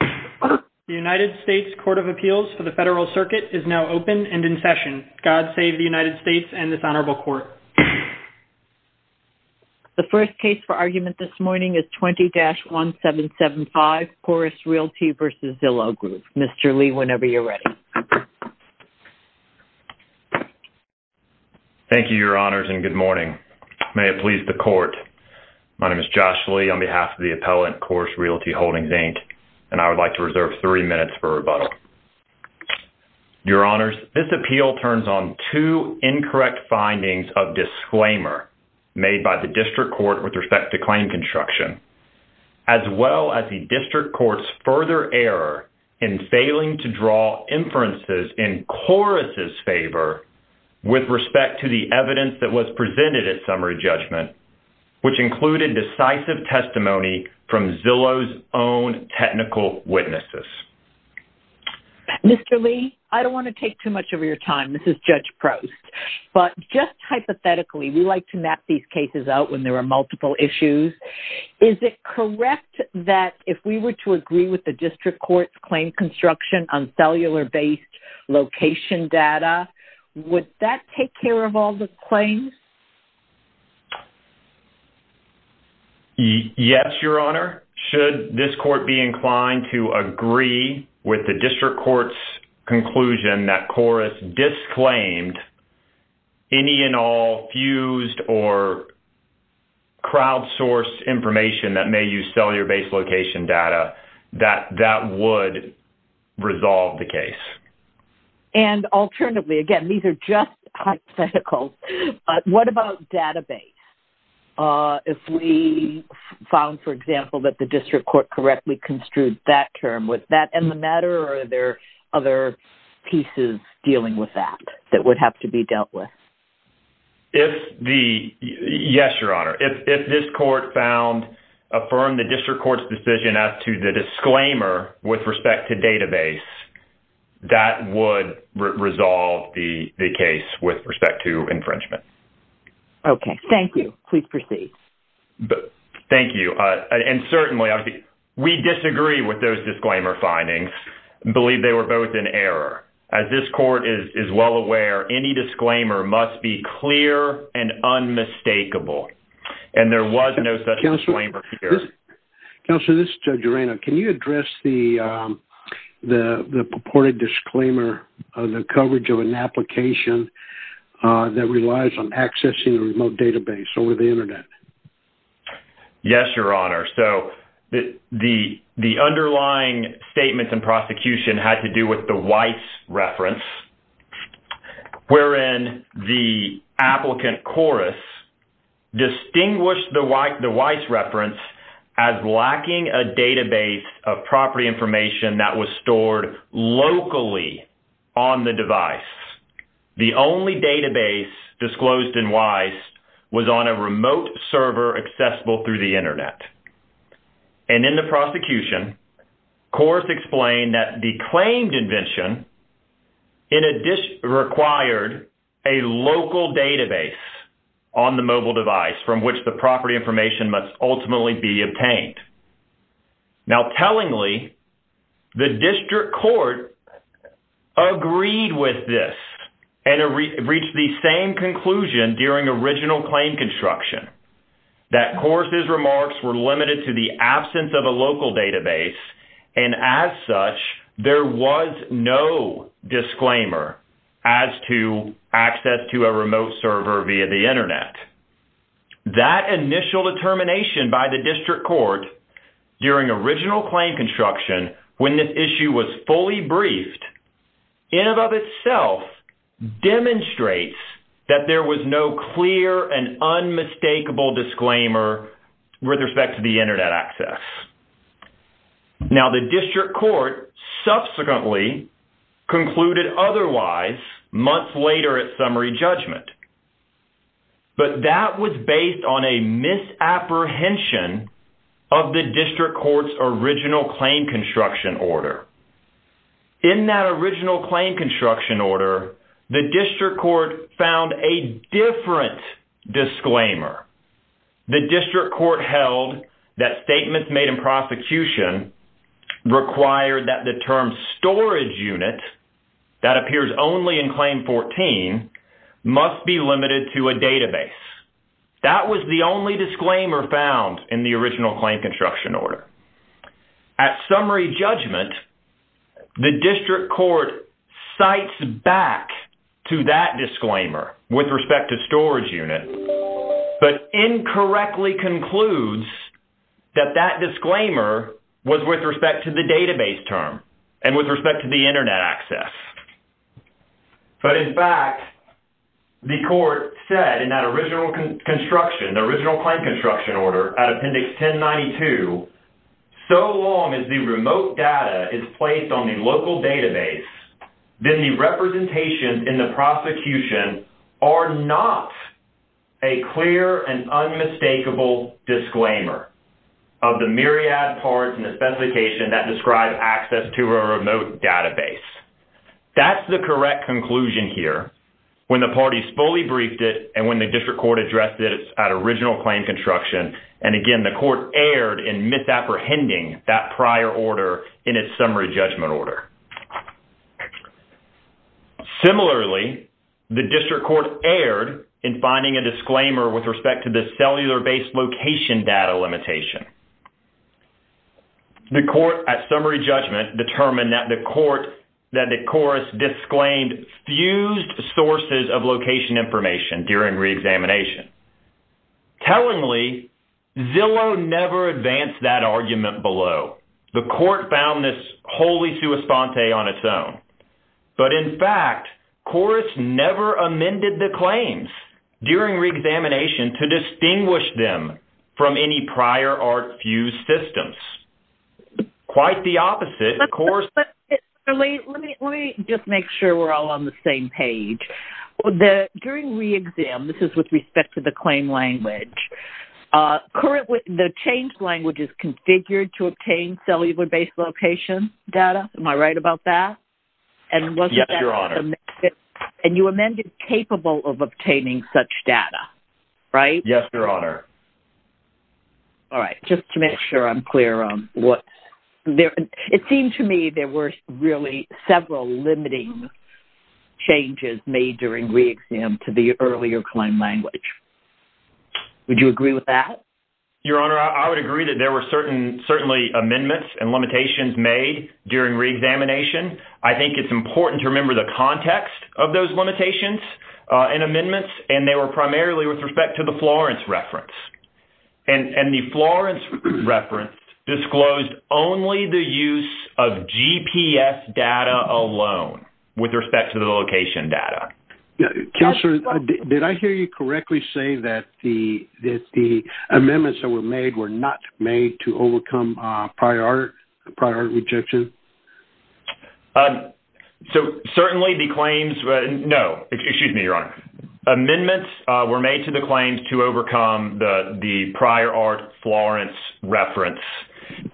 The United States Court of Appeals for the Federal Circuit is now open and in session. God save the United States and this Honorable Court. The first case for argument this morning is 20-1775, Corus Realty v. Zillow Group. Mr. Lee, whenever you're ready. Thank you, Your Honors, and good morning. May it please the Court. My name is Josh Lee on behalf of the appellant, Corus Realty Holdings, Inc., and I would like to reserve three minutes for rebuttal. Your Honors, this appeal turns on two incorrect findings of disclaimer made by the District Court with respect to claim construction, as well as the District Court's further error in failing to draw inferences in Corus's favor with respect to the evidence that was presented at summary judgment. Which included decisive testimony from Zillow's own technical witnesses. Mr. Lee, I don't want to take too much of your time. This is Judge Prost. But just hypothetically, we like to map these cases out when there are multiple issues. Is it correct that if we were to agree with the District Court's claim construction on cellular-based location data, would that take care of all the claims? Yes, Your Honor. Should this Court be inclined to agree with the District Court's conclusion that Corus disclaimed any and all fused or crowd-sourced information that may use cellular-based location data, that that would resolve the case. And alternatively, again, these are just hypotheticals, what about database? If we found, for example, that the District Court correctly construed that term, would that end the matter or are there other pieces dealing with that that would have to be dealt with? Yes, Your Honor. If this Court found, affirmed the District Court's decision as to the disclaimer with respect to database, that would resolve the case with respect to infringement. Okay. Thank you. Please proceed. Thank you. And certainly, we disagree with those disclaimer findings and believe they were both in error. As this Court is well aware, any disclaimer must be clear and unmistakable. And there was no such disclaimer here. Counselor, this is Joe Durano. Can you address the purported disclaimer of the coverage of an application that relies on accessing a remote database over the Internet? Yes, Your Honor. So, the underlying statements in prosecution had to do with the WISE reference, wherein the applicant, Chorus, distinguished the WISE reference as lacking a database of property information that was stored locally on the device. The only database disclosed in WISE was on a remote server accessible through the Internet. And in the prosecution, Chorus explained that the claimed invention required a local database on the mobile device from which the property information must ultimately be obtained. Now, tellingly, the District Court agreed with this and reached the same conclusion during original claim construction. That Chorus's remarks were limited to the absence of a local database, and as such, there was no disclaimer as to access to a remote server via the Internet. That initial determination by the District Court during original claim construction, when this issue was fully briefed, in and of itself demonstrates that there was no clear and unmistakable disclaimer with respect to the Internet access. Now, the District Court subsequently concluded otherwise months later at summary judgment. But that was based on a misapprehension of the District Court's original claim construction order. In that original claim construction order, the District Court found a different disclaimer. The District Court held that statements made in prosecution required that the term storage unit that appears only in Claim 14 must be limited to a database. That was the only disclaimer found in the original claim construction order. At summary judgment, the District Court cites back to that disclaimer with respect to storage unit, but incorrectly concludes that that disclaimer was with respect to the database term and with respect to the Internet access. But in fact, the Court said in that original construction, the original claim construction order at Appendix 1092, so long as the remote data is placed on the local database, then the representations in the prosecution are not a clear and unmistakable disclaimer of the myriad parts in the specification that describe access to a remote database. That's the correct conclusion here when the parties fully briefed it and when the District Court addressed it at original claim construction. And again, the Court erred in misapprehending that prior order in its summary judgment order. Similarly, the District Court erred in finding a disclaimer with respect to the cellular-based location data limitation. The Court, at summary judgment, determined that the Corus disclaimed fused sources of location information during reexamination. Tellingly, Zillow never advanced that argument below. The Court found this wholly sui sponte on its own. But in fact, Corus never amended the claims during reexamination to distinguish them from any prior art fused systems. Quite the opposite, Corus... Let me just make sure we're all on the same page. During reexam, this is with respect to the claim language, currently the change language is configured to obtain cellular-based location data. Am I right about that? Yes, Your Honor. And you amended capable of obtaining such data, right? Yes, Your Honor. All right, just to make sure I'm clear on what... It seemed to me there were really several limiting changes made during reexam to the earlier claim language. Would you agree with that? Your Honor, I would agree that there were certainly amendments and limitations made during reexamination. I think it's important to remember the context of those limitations and amendments, and they were primarily with respect to the Florence reference. And the Florence reference disclosed only the use of GPS data alone with respect to the location data. Counselor, did I hear you correctly say that the amendments that were made were not made to overcome prior art rejection? So certainly the claims... No, excuse me, Your Honor. Amendments were made to the claims to overcome the prior art Florence reference.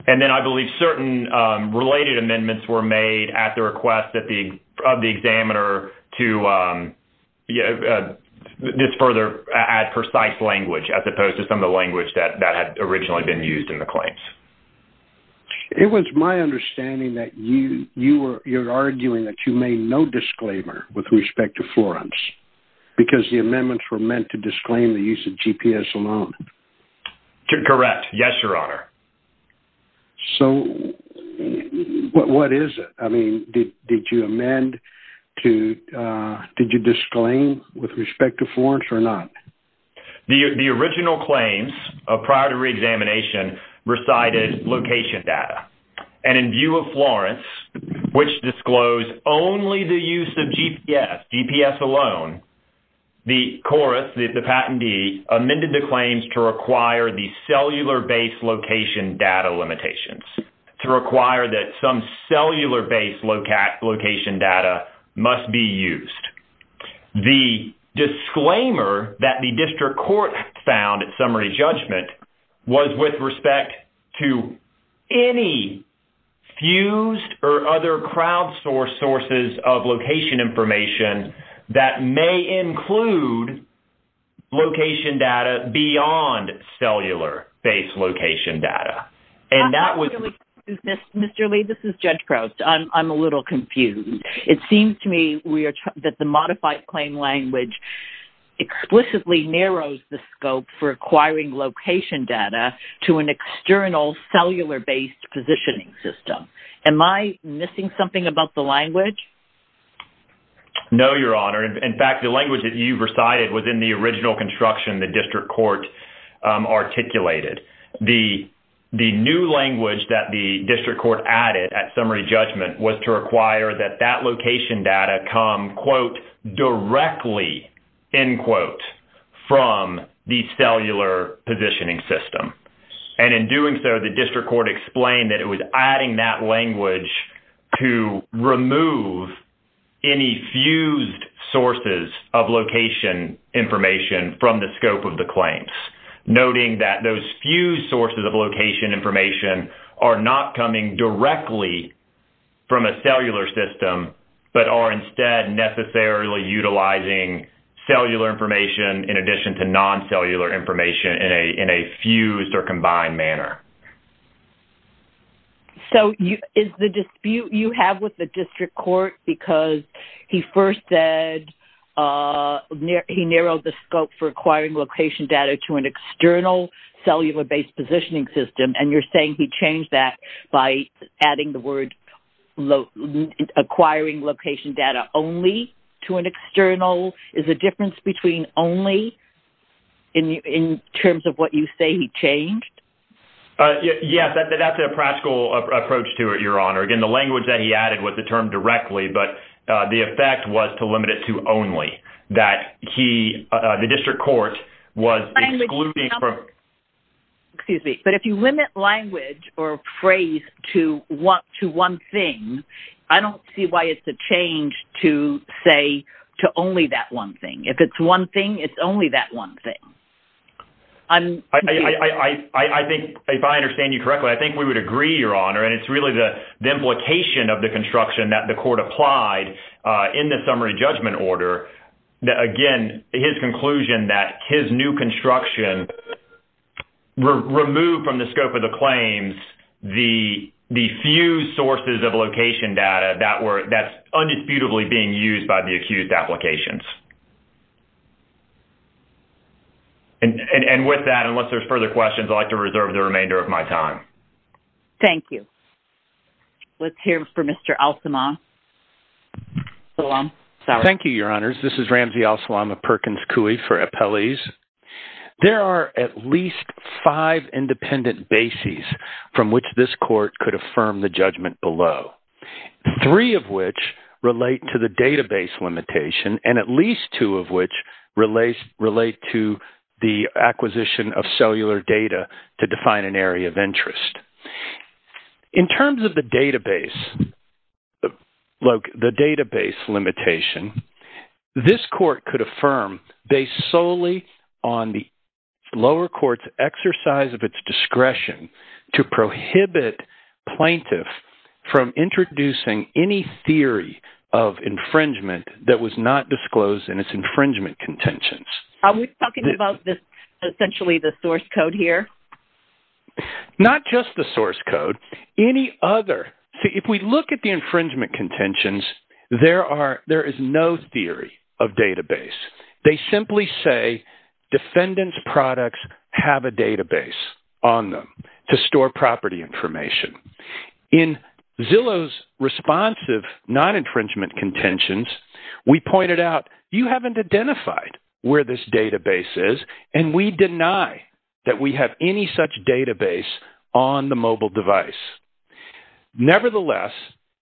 And then I believe certain related amendments were made at the request of the examiner to just further add precise language as opposed to some of the language that had originally been used in the claims. It was my understanding that you were arguing that you made no disclaimer with respect to Florence because the amendments were meant to disclaim the use of GPS alone. Correct. Yes, Your Honor. So what is it? I mean, did you amend to... Did you disclaim with respect to Florence or not? The original claims prior to reexamination recited location data. And in view of Florence, which disclosed only the use of GPS, GPS alone, the CORUS, the patentee, amended the claims to require the cellular-based location data limitations, to require that some cellular-based location data must be used. The disclaimer that the district court found at summary judgment was with respect to any fused or other crowdsourced sources of location information that may include location data beyond cellular-based location data. And that was... Mr. Lee, this is Judge Crouse. I'm a little confused. It seems to me that the modified claim language explicitly narrows the scope for acquiring location data to an external cellular-based positioning system. Am I missing something about the language? No, Your Honor. In fact, the language that you recited was in the original construction the district court articulated. The new language that the district court added at summary judgment was to require that that location data come, quote, directly, end quote, from the cellular positioning system. And in doing so, the district court explained that it was adding that language to remove any fused sources of location information from the scope of the claims, noting that those fused sources of location information are not coming directly from a cellular system, but are instead necessarily utilizing cellular information in addition to non-cellular information in a fused or combined manner. So, is the dispute you have with the district court because he first said he narrowed the scope for acquiring location data to an external cellular-based positioning system, and you're saying he changed that by adding the word acquiring location data only to an external? Is the difference between only in terms of what you say he changed? Yes, that's a practical approach to it, Your Honor. Again, the language that he added was the term directly, but the effect was to limit it to only, that he, the district court, was excluding. Excuse me, but if you limit language or phrase to one thing, I don't see why it's a change to say to only that one thing. If it's one thing, it's only that one thing. I think, if I understand you correctly, I think we would agree, Your Honor, and it's really the implication of the construction that the court applied in the summary judgment order. Again, his conclusion that his new construction removed from the scope of the claims the fused sources of location data that's undisputably being used by the accused applications. And with that, unless there's further questions, I'd like to reserve the remainder of my time. Thank you. Let's hear from Mr. Al-Salam. Thank you, Your Honors. This is Ramsey Al-Salam of Perkins Coie for Appellees. There are at least five independent bases from which this court could affirm the judgment below, three of which relate to the database limitation, and at least two of which relate to the acquisition of cellular data to define an area of interest. In terms of the database limitation, this court could affirm, based solely on the lower court's exercise of its discretion to prohibit plaintiffs from introducing any theory of infringement that was not disclosed in its infringement contentions. Are we talking about essentially the source code here? Not just the source code, any other. See, if we look at the infringement contentions, there is no theory of database. They simply say defendants' products have a database on them to store property information. In Zillow's responsive non-infringement contentions, we pointed out, you haven't identified where this database is, and we deny that we have any such database on the mobile device. Nevertheless,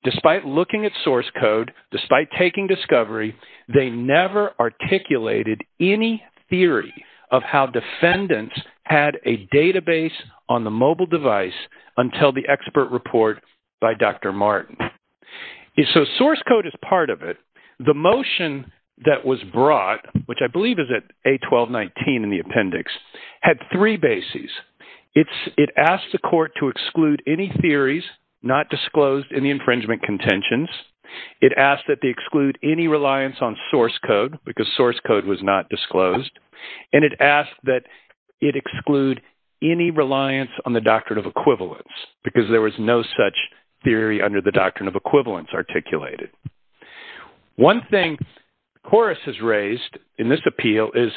despite looking at source code, despite taking discovery, they never articulated any theory of how defendants had a database on the mobile device until the expert report by Dr. Martin. So source code is part of it. The motion that was brought, which I believe is at A1219 in the appendix, had three bases. It asked the court to exclude any theories not disclosed in the infringement contentions. It asked that they exclude any reliance on source code because source code was not disclosed. And it asked that it exclude any reliance on the doctrine of equivalence because there was no such theory under the doctrine of equivalence articulated. One thing Chorus has raised in this appeal is,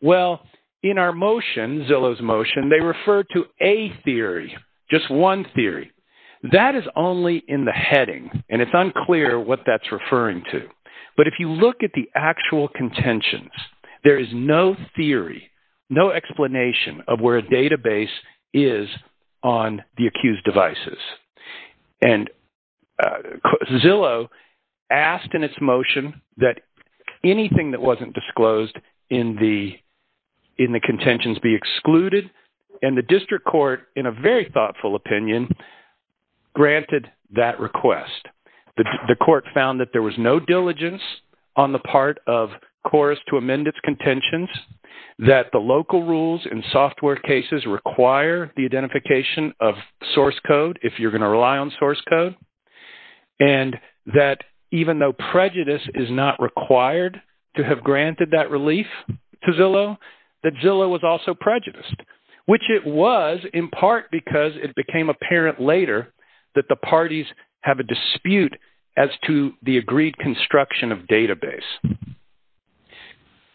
well, in our motion, Zillow's motion, they refer to a theory, just one theory. That is only in the heading, and it's unclear what that's referring to. But if you look at the actual contentions, there is no theory, no explanation of where a database is on the accused devices. And Zillow asked in its motion that anything that wasn't disclosed in the contentions be excluded. And the district court, in a very thoughtful opinion, granted that request. The court found that there was no diligence on the part of Chorus to amend its contentions, that the local rules and software cases require the identification of source code if you're going to rely on source code, and that even though prejudice is not required to have granted that relief to Zillow, that Zillow was also prejudiced, which it was in part because it became apparent later that the parties have a dispute as to the agreed construction of database.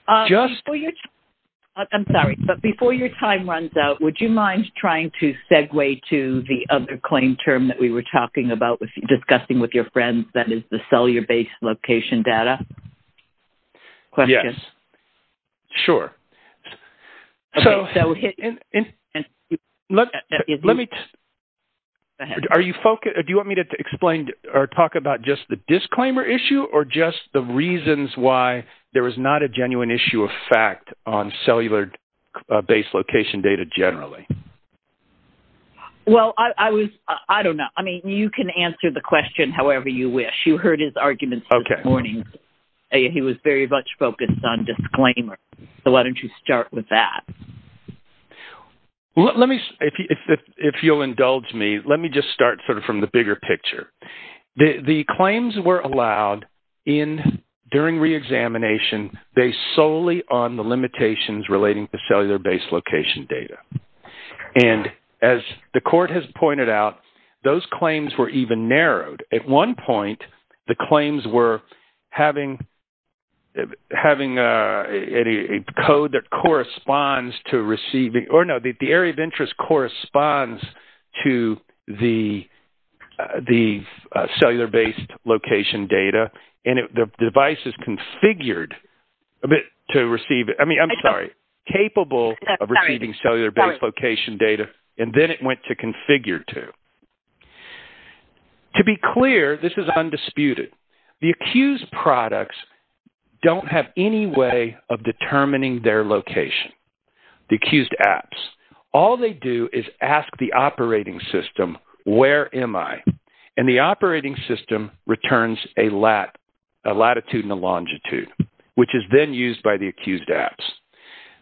I'm sorry, but before your time runs out, would you mind trying to segue to the other claim term that we were talking about, discussing with your friends, that is the cellular-based location data? Yes, sure. Do you want me to talk about just the disclaimer issue or just the reasons why there is not a genuine issue of fact on cellular-based location data generally? Well, I don't know. I mean, you can answer the question however you wish. You heard his arguments this morning. He was very much focused on disclaimers, so why don't you start with that? If you'll indulge me, let me just start sort of from the bigger picture. The claims were allowed during reexamination based solely on the limitations relating to cellular-based location data. And as the court has pointed out, those claims were even narrowed. At one point, the claims were having a code that corresponds to receiving – or no, the area of interest corresponds to the cellular-based location data. And the device is configured to receive – I mean, I'm sorry, capable of receiving cellular-based location data, and then it went to configure to. To be clear, this is undisputed, the accused products don't have any way of determining their location, the accused apps. All they do is ask the operating system, where am I? And the operating system returns a latitude and a longitude, which is then used by the accused apps.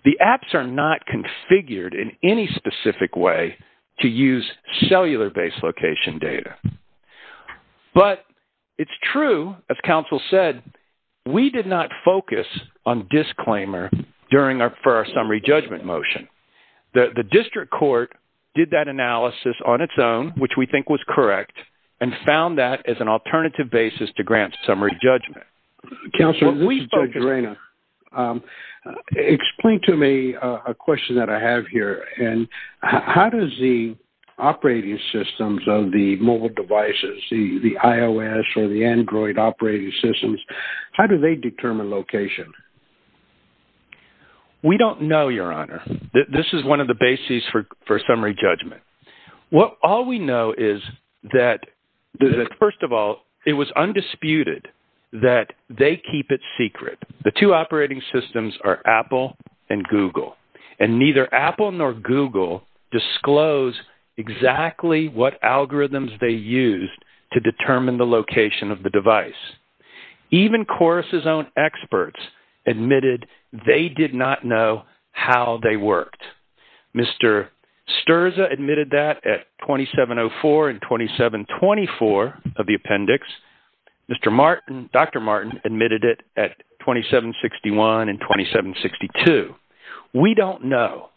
The apps are not configured in any specific way to use cellular-based location data. But it's true, as counsel said, we did not focus on disclaimer for our summary judgment motion. The district court did that analysis on its own, which we think was correct, and found that as an alternative basis to grant summary judgment. Counsel, Judge Arena, explain to me a question that I have here. And how does the operating systems of the mobile devices, the iOS or the Android operating systems, how do they determine location? We don't know, Your Honor. This is one of the bases for summary judgment. All we know is that, first of all, it was undisputed that they keep it secret. The two operating systems are Apple and Google. And neither Apple nor Google disclose exactly what algorithms they used to determine the location of the device. Even Corus's own experts admitted they did not know how they worked. Mr. Sterza admitted that at 2704 and 2724 of the appendix. Dr. Martin admitted it at 2761 and 2762. We don't know.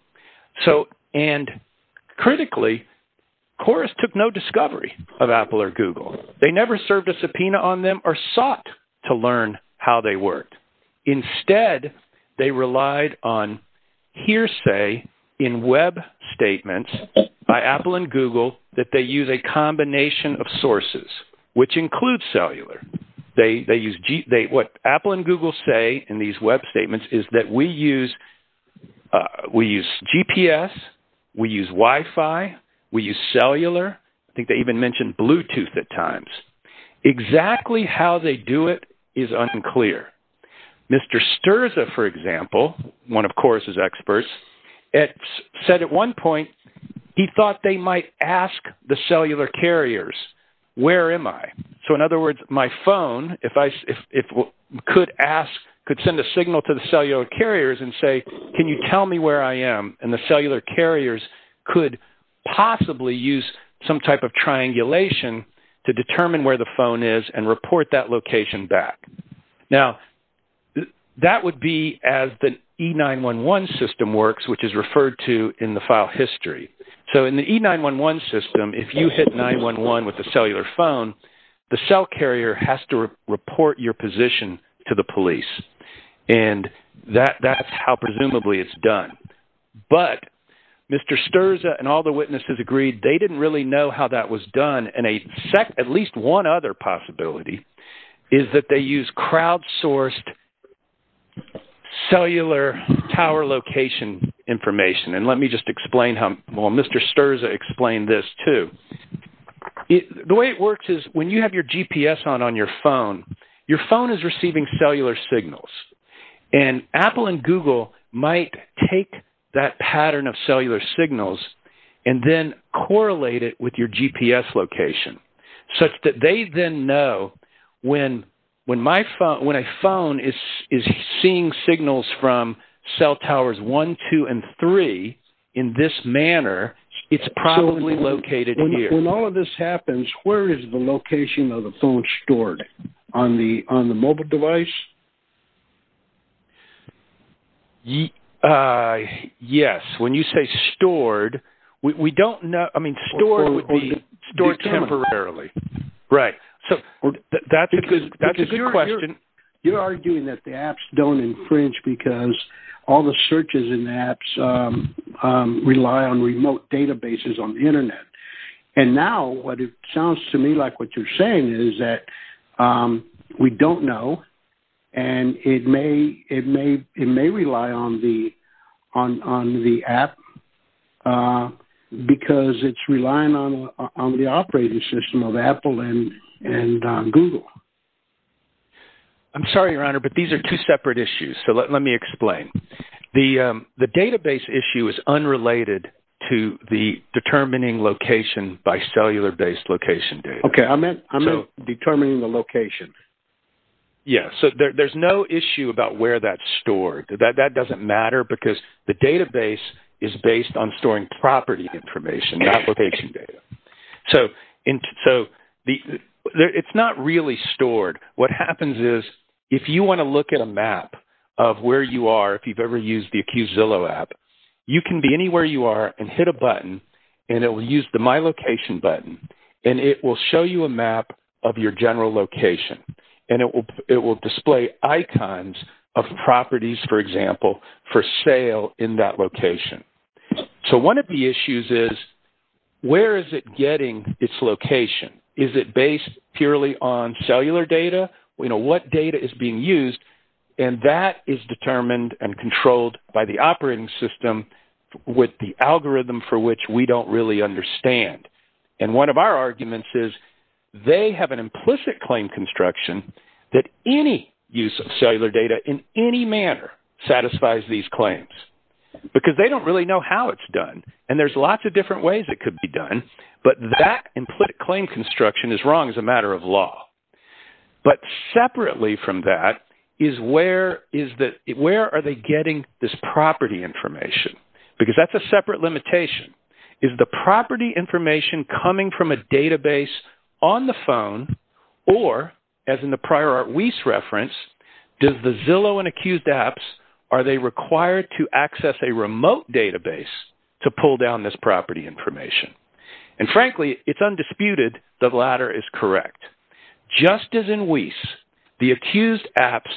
And critically, Corus took no discovery of Apple or Google. They never served a subpoena on them or sought to learn how they worked. Instead, they relied on hearsay in web statements by Apple and Google that they use a combination of sources, which includes cellular. What Apple and Google say in these web statements is that we use GPS, we use Wi-Fi, we use cellular. I think they even mention Bluetooth at times. Exactly how they do it is unclear. Mr. Sterza, for example, one of Corus's experts, said at one point he thought they might ask the cellular carriers, where am I? So in other words, my phone, if I could ask, could send a signal to the cellular carriers and say, can you tell me where I am? And the cellular carriers could possibly use some type of triangulation to determine where the phone is and report that location back. Now, that would be as the E911 system works, which is referred to in the file history. So in the E911 system, if you hit 911 with a cellular phone, the cell carrier has to report your position to the police. And that's how presumably it's done. But Mr. Sterza and all the witnesses agreed they didn't really know how that was done. And at least one other possibility is that they use crowdsourced cellular tower location information. And let me just explain how – well, Mr. Sterza explained this too. The way it works is when you have your GPS on on your phone, your phone is receiving cellular signals. And Apple and Google might take that pattern of cellular signals and then correlate it with your GPS location, such that they then know when a phone is seeing signals from cell towers 1, 2, and 3 in this manner, it's probably located here. When all of this happens, where is the location of the phone stored? On the mobile device? Yes. When you say stored, we don't – I mean, stored would be stored temporarily. Right. That's a good question. You're arguing that the apps don't infringe because all the searches in the apps rely on remote databases on the Internet. And now what it sounds to me like what you're saying is that we don't know. And it may rely on the app because it's relying on the operating system of Apple and Google. I'm sorry, Your Honor, but these are two separate issues. So let me explain. The database issue is unrelated to the determining location by cellular-based location data. Okay. I meant determining the location. Yes. So there's no issue about where that's stored. That doesn't matter because the database is based on storing property information, not location data. So it's not really stored. What happens is if you want to look at a map of where you are, if you've ever used the Accusillo app, you can be anywhere you are and hit a button, and it will use the My Location button, and it will show you a map of your general location. And it will display icons of properties, for example, for sale in that location. So one of the issues is where is it getting its location? Is it based purely on cellular data? What data is being used? And that is determined and controlled by the operating system with the algorithm for which we don't really understand. And one of our arguments is they have an implicit claim construction that any use of cellular data in any manner satisfies these claims because they don't really know how it's done. And there's lots of different ways it could be done, but that implicit claim construction is wrong as a matter of law. But separately from that, where are they getting this property information? Because that's a separate limitation. Is the property information coming from a database on the phone, or, as in the prior Art Weiss reference, does the Zillow and Accused apps, are they required to access a remote database to pull down this property information? And frankly, it's undisputed the latter is correct. Just as in Weiss, the Accused apps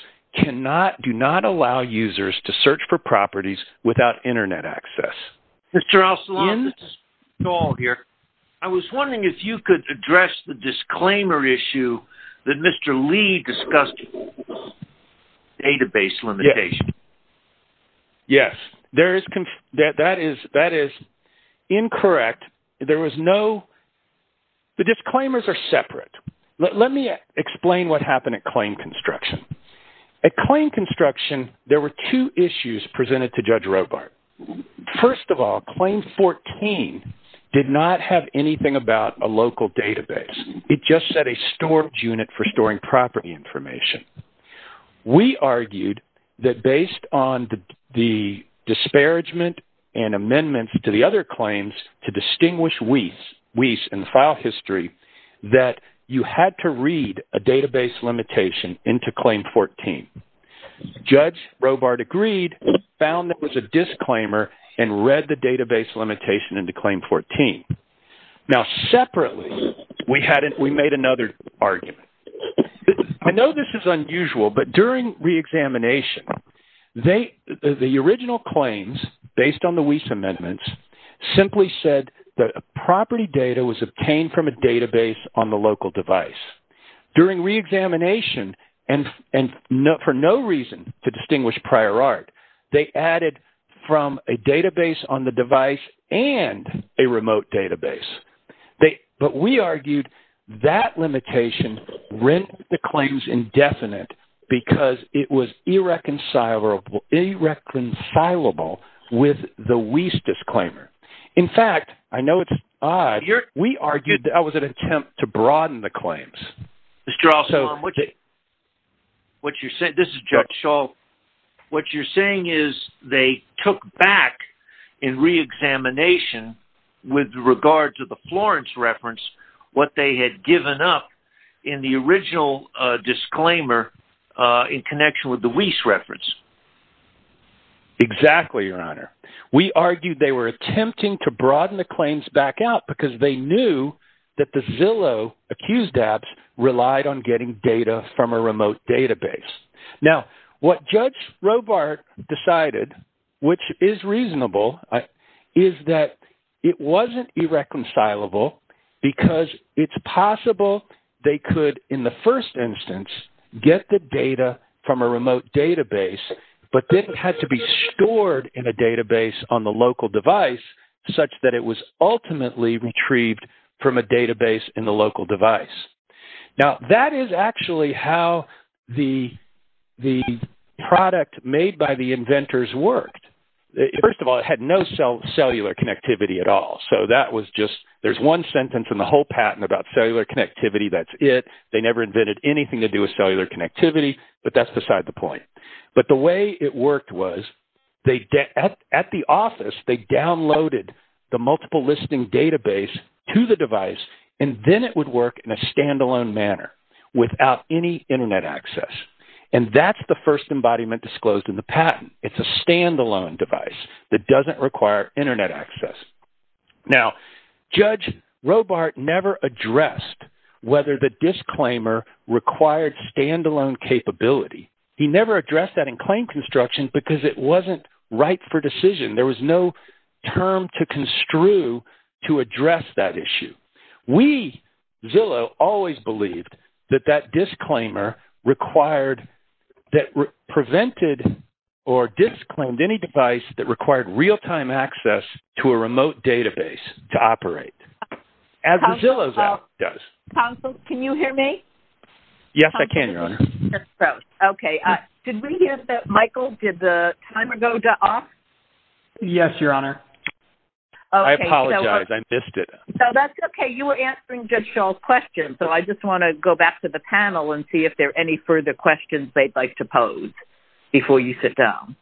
do not allow users to search for properties without Internet access. Mr. Ocelot, this is Paul here. I was wondering if you could address the disclaimer issue that Mr. Lee discussed, database limitation. Yes, that is incorrect. There was no – the disclaimers are separate. Let me explain what happened at claim construction. At claim construction, there were two issues presented to Judge Robart. First of all, claim 14 did not have anything about a local database. It just said a storage unit for storing property information. We argued that based on the disparagement and amendments to the other claims to distinguish Weiss and the file history, that you had to read a database limitation into claim 14. Judge Robart agreed, found that it was a disclaimer, and read the database limitation into claim 14. Now separately, we made another argument. I know this is unusual, but during reexamination, the original claims based on the Weiss amendments simply said that property data was obtained from a database on the local device. During reexamination, and for no reason to distinguish prior art, they added from a database on the device and a remote database. But we argued that limitation rent the claims indefinite because it was irreconcilable with the Weiss disclaimer. In fact, I know it's odd, but we argued that it was an attempt to broaden the claims. Mr. Alston, this is Judge Schall. What you're saying is they took back in reexamination with regard to the Florence reference what they had given up in the original disclaimer in connection with the Weiss reference. Exactly, Your Honor. We argued they were attempting to broaden the claims back out because they knew that the Zillow accused dabs relied on getting data from a remote database. Now, what Judge Robart decided, which is reasonable, is that it wasn't irreconcilable because it's possible they could, in the first instance, get the data from a remote database, but then it had to be stored in a database on the local device such that it was ultimately retrieved from a database in the local device. Now, that is actually how the product made by the inventors worked. First of all, it had no cellular connectivity at all. There's one sentence in the whole patent about cellular connectivity. That's it. They never invented anything to do with cellular connectivity, but that's beside the point. But the way it worked was at the office, they downloaded the multiple listing database to the device, and then it would work in a standalone manner without any Internet access. And that's the first embodiment disclosed in the patent. It's a standalone device that doesn't require Internet access. Now, Judge Robart never addressed whether the disclaimer required standalone capability. He never addressed that in claim construction because it wasn't right for decision. There was no term to construe to address that issue. We, Zillow, always believed that that disclaimer required that prevented or disclaimed any device that required real-time access to a remote database to operate, as the Zillow app does. Counsel, can you hear me? Yes, I can, Your Honor. Okay. Did we hear that, Michael? Did the timer go off? Yes, Your Honor. I apologize. I missed it. No, that's okay. You were answering Judge Shaw's question, so I just want to go back to the panel and see if there are any further questions they'd like to pose before you sit down.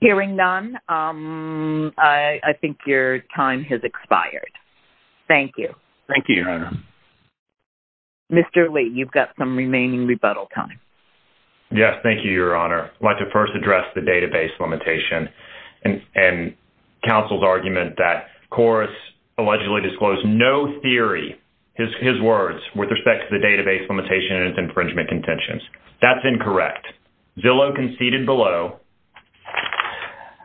Hearing none, I think your time has expired. Thank you. Thank you, Your Honor. Mr. Lee, you've got some remaining rebuttal time. Yes, thank you, Your Honor. I'd like to first address the database limitation and counsel's argument that Korus allegedly disclosed no theory, his words, with respect to the database limitation and its infringement contentions. That's incorrect. Zillow conceded below,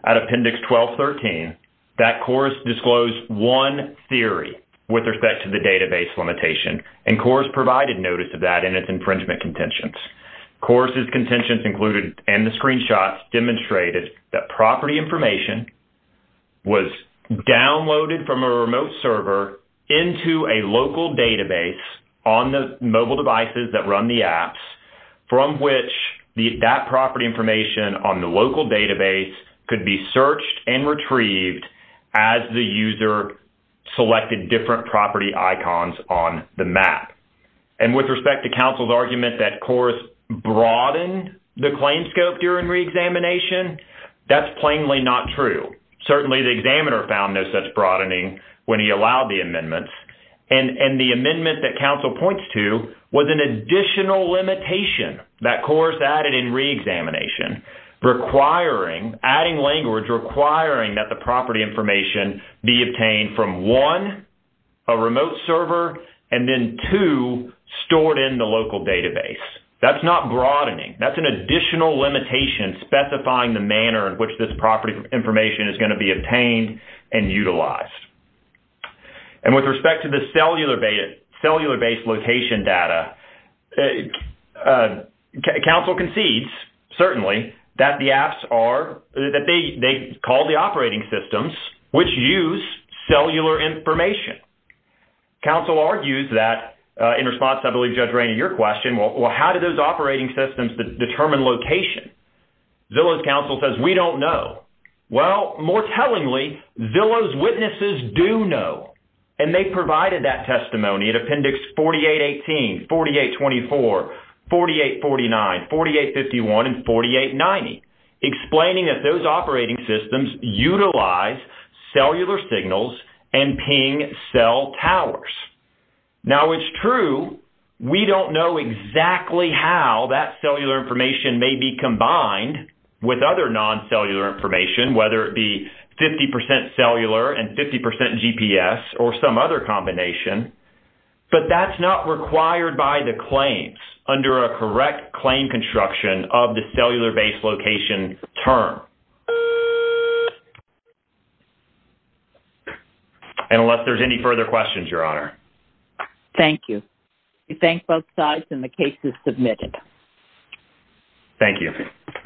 at Appendix 1213, that Korus disclosed one theory with respect to the database limitation, and Korus provided notice of that and its infringement contentions. Korus's contentions included, and the screenshots, demonstrated that property information was downloaded from a remote server into a local database on the mobile devices that run the apps, from which that property information on the local database could be searched and retrieved as the user selected different property icons on the map. And with respect to counsel's argument that Korus broadened the claim scope during reexamination, that's plainly not true. Certainly, the examiner found no such broadening when he allowed the amendments. And the amendment that counsel points to was an additional limitation that Korus added in reexamination requiring, adding language requiring, that the property information be obtained from, one, a remote server, and then, two, stored in the local database. That's not broadening. That's an additional limitation specifying the manner in which this property information is going to be obtained and utilized. And with respect to the cellular-based location data, counsel concedes, certainly, that the apps are, that they call the operating systems which use cellular information. Counsel argues that, in response, I believe, Judge Rainey, your question, well, how do those operating systems determine location? Zillow's counsel says, we don't know. Well, more tellingly, Zillow's witnesses do know. And they provided that testimony at Appendix 4818, 4824, 4849, 4851, and 4890, explaining that those operating systems utilize cellular signals and ping cell towers. Now, it's true we don't know exactly how that cellular information may be combined with other non-cellular information, whether it be 50% cellular and 50% GPS or some other combination. But that's not required by the claims under a correct claim construction of the application term. And unless there's any further questions, Your Honor. Thank you. We thank both sides, and the case is submitted. Thank you.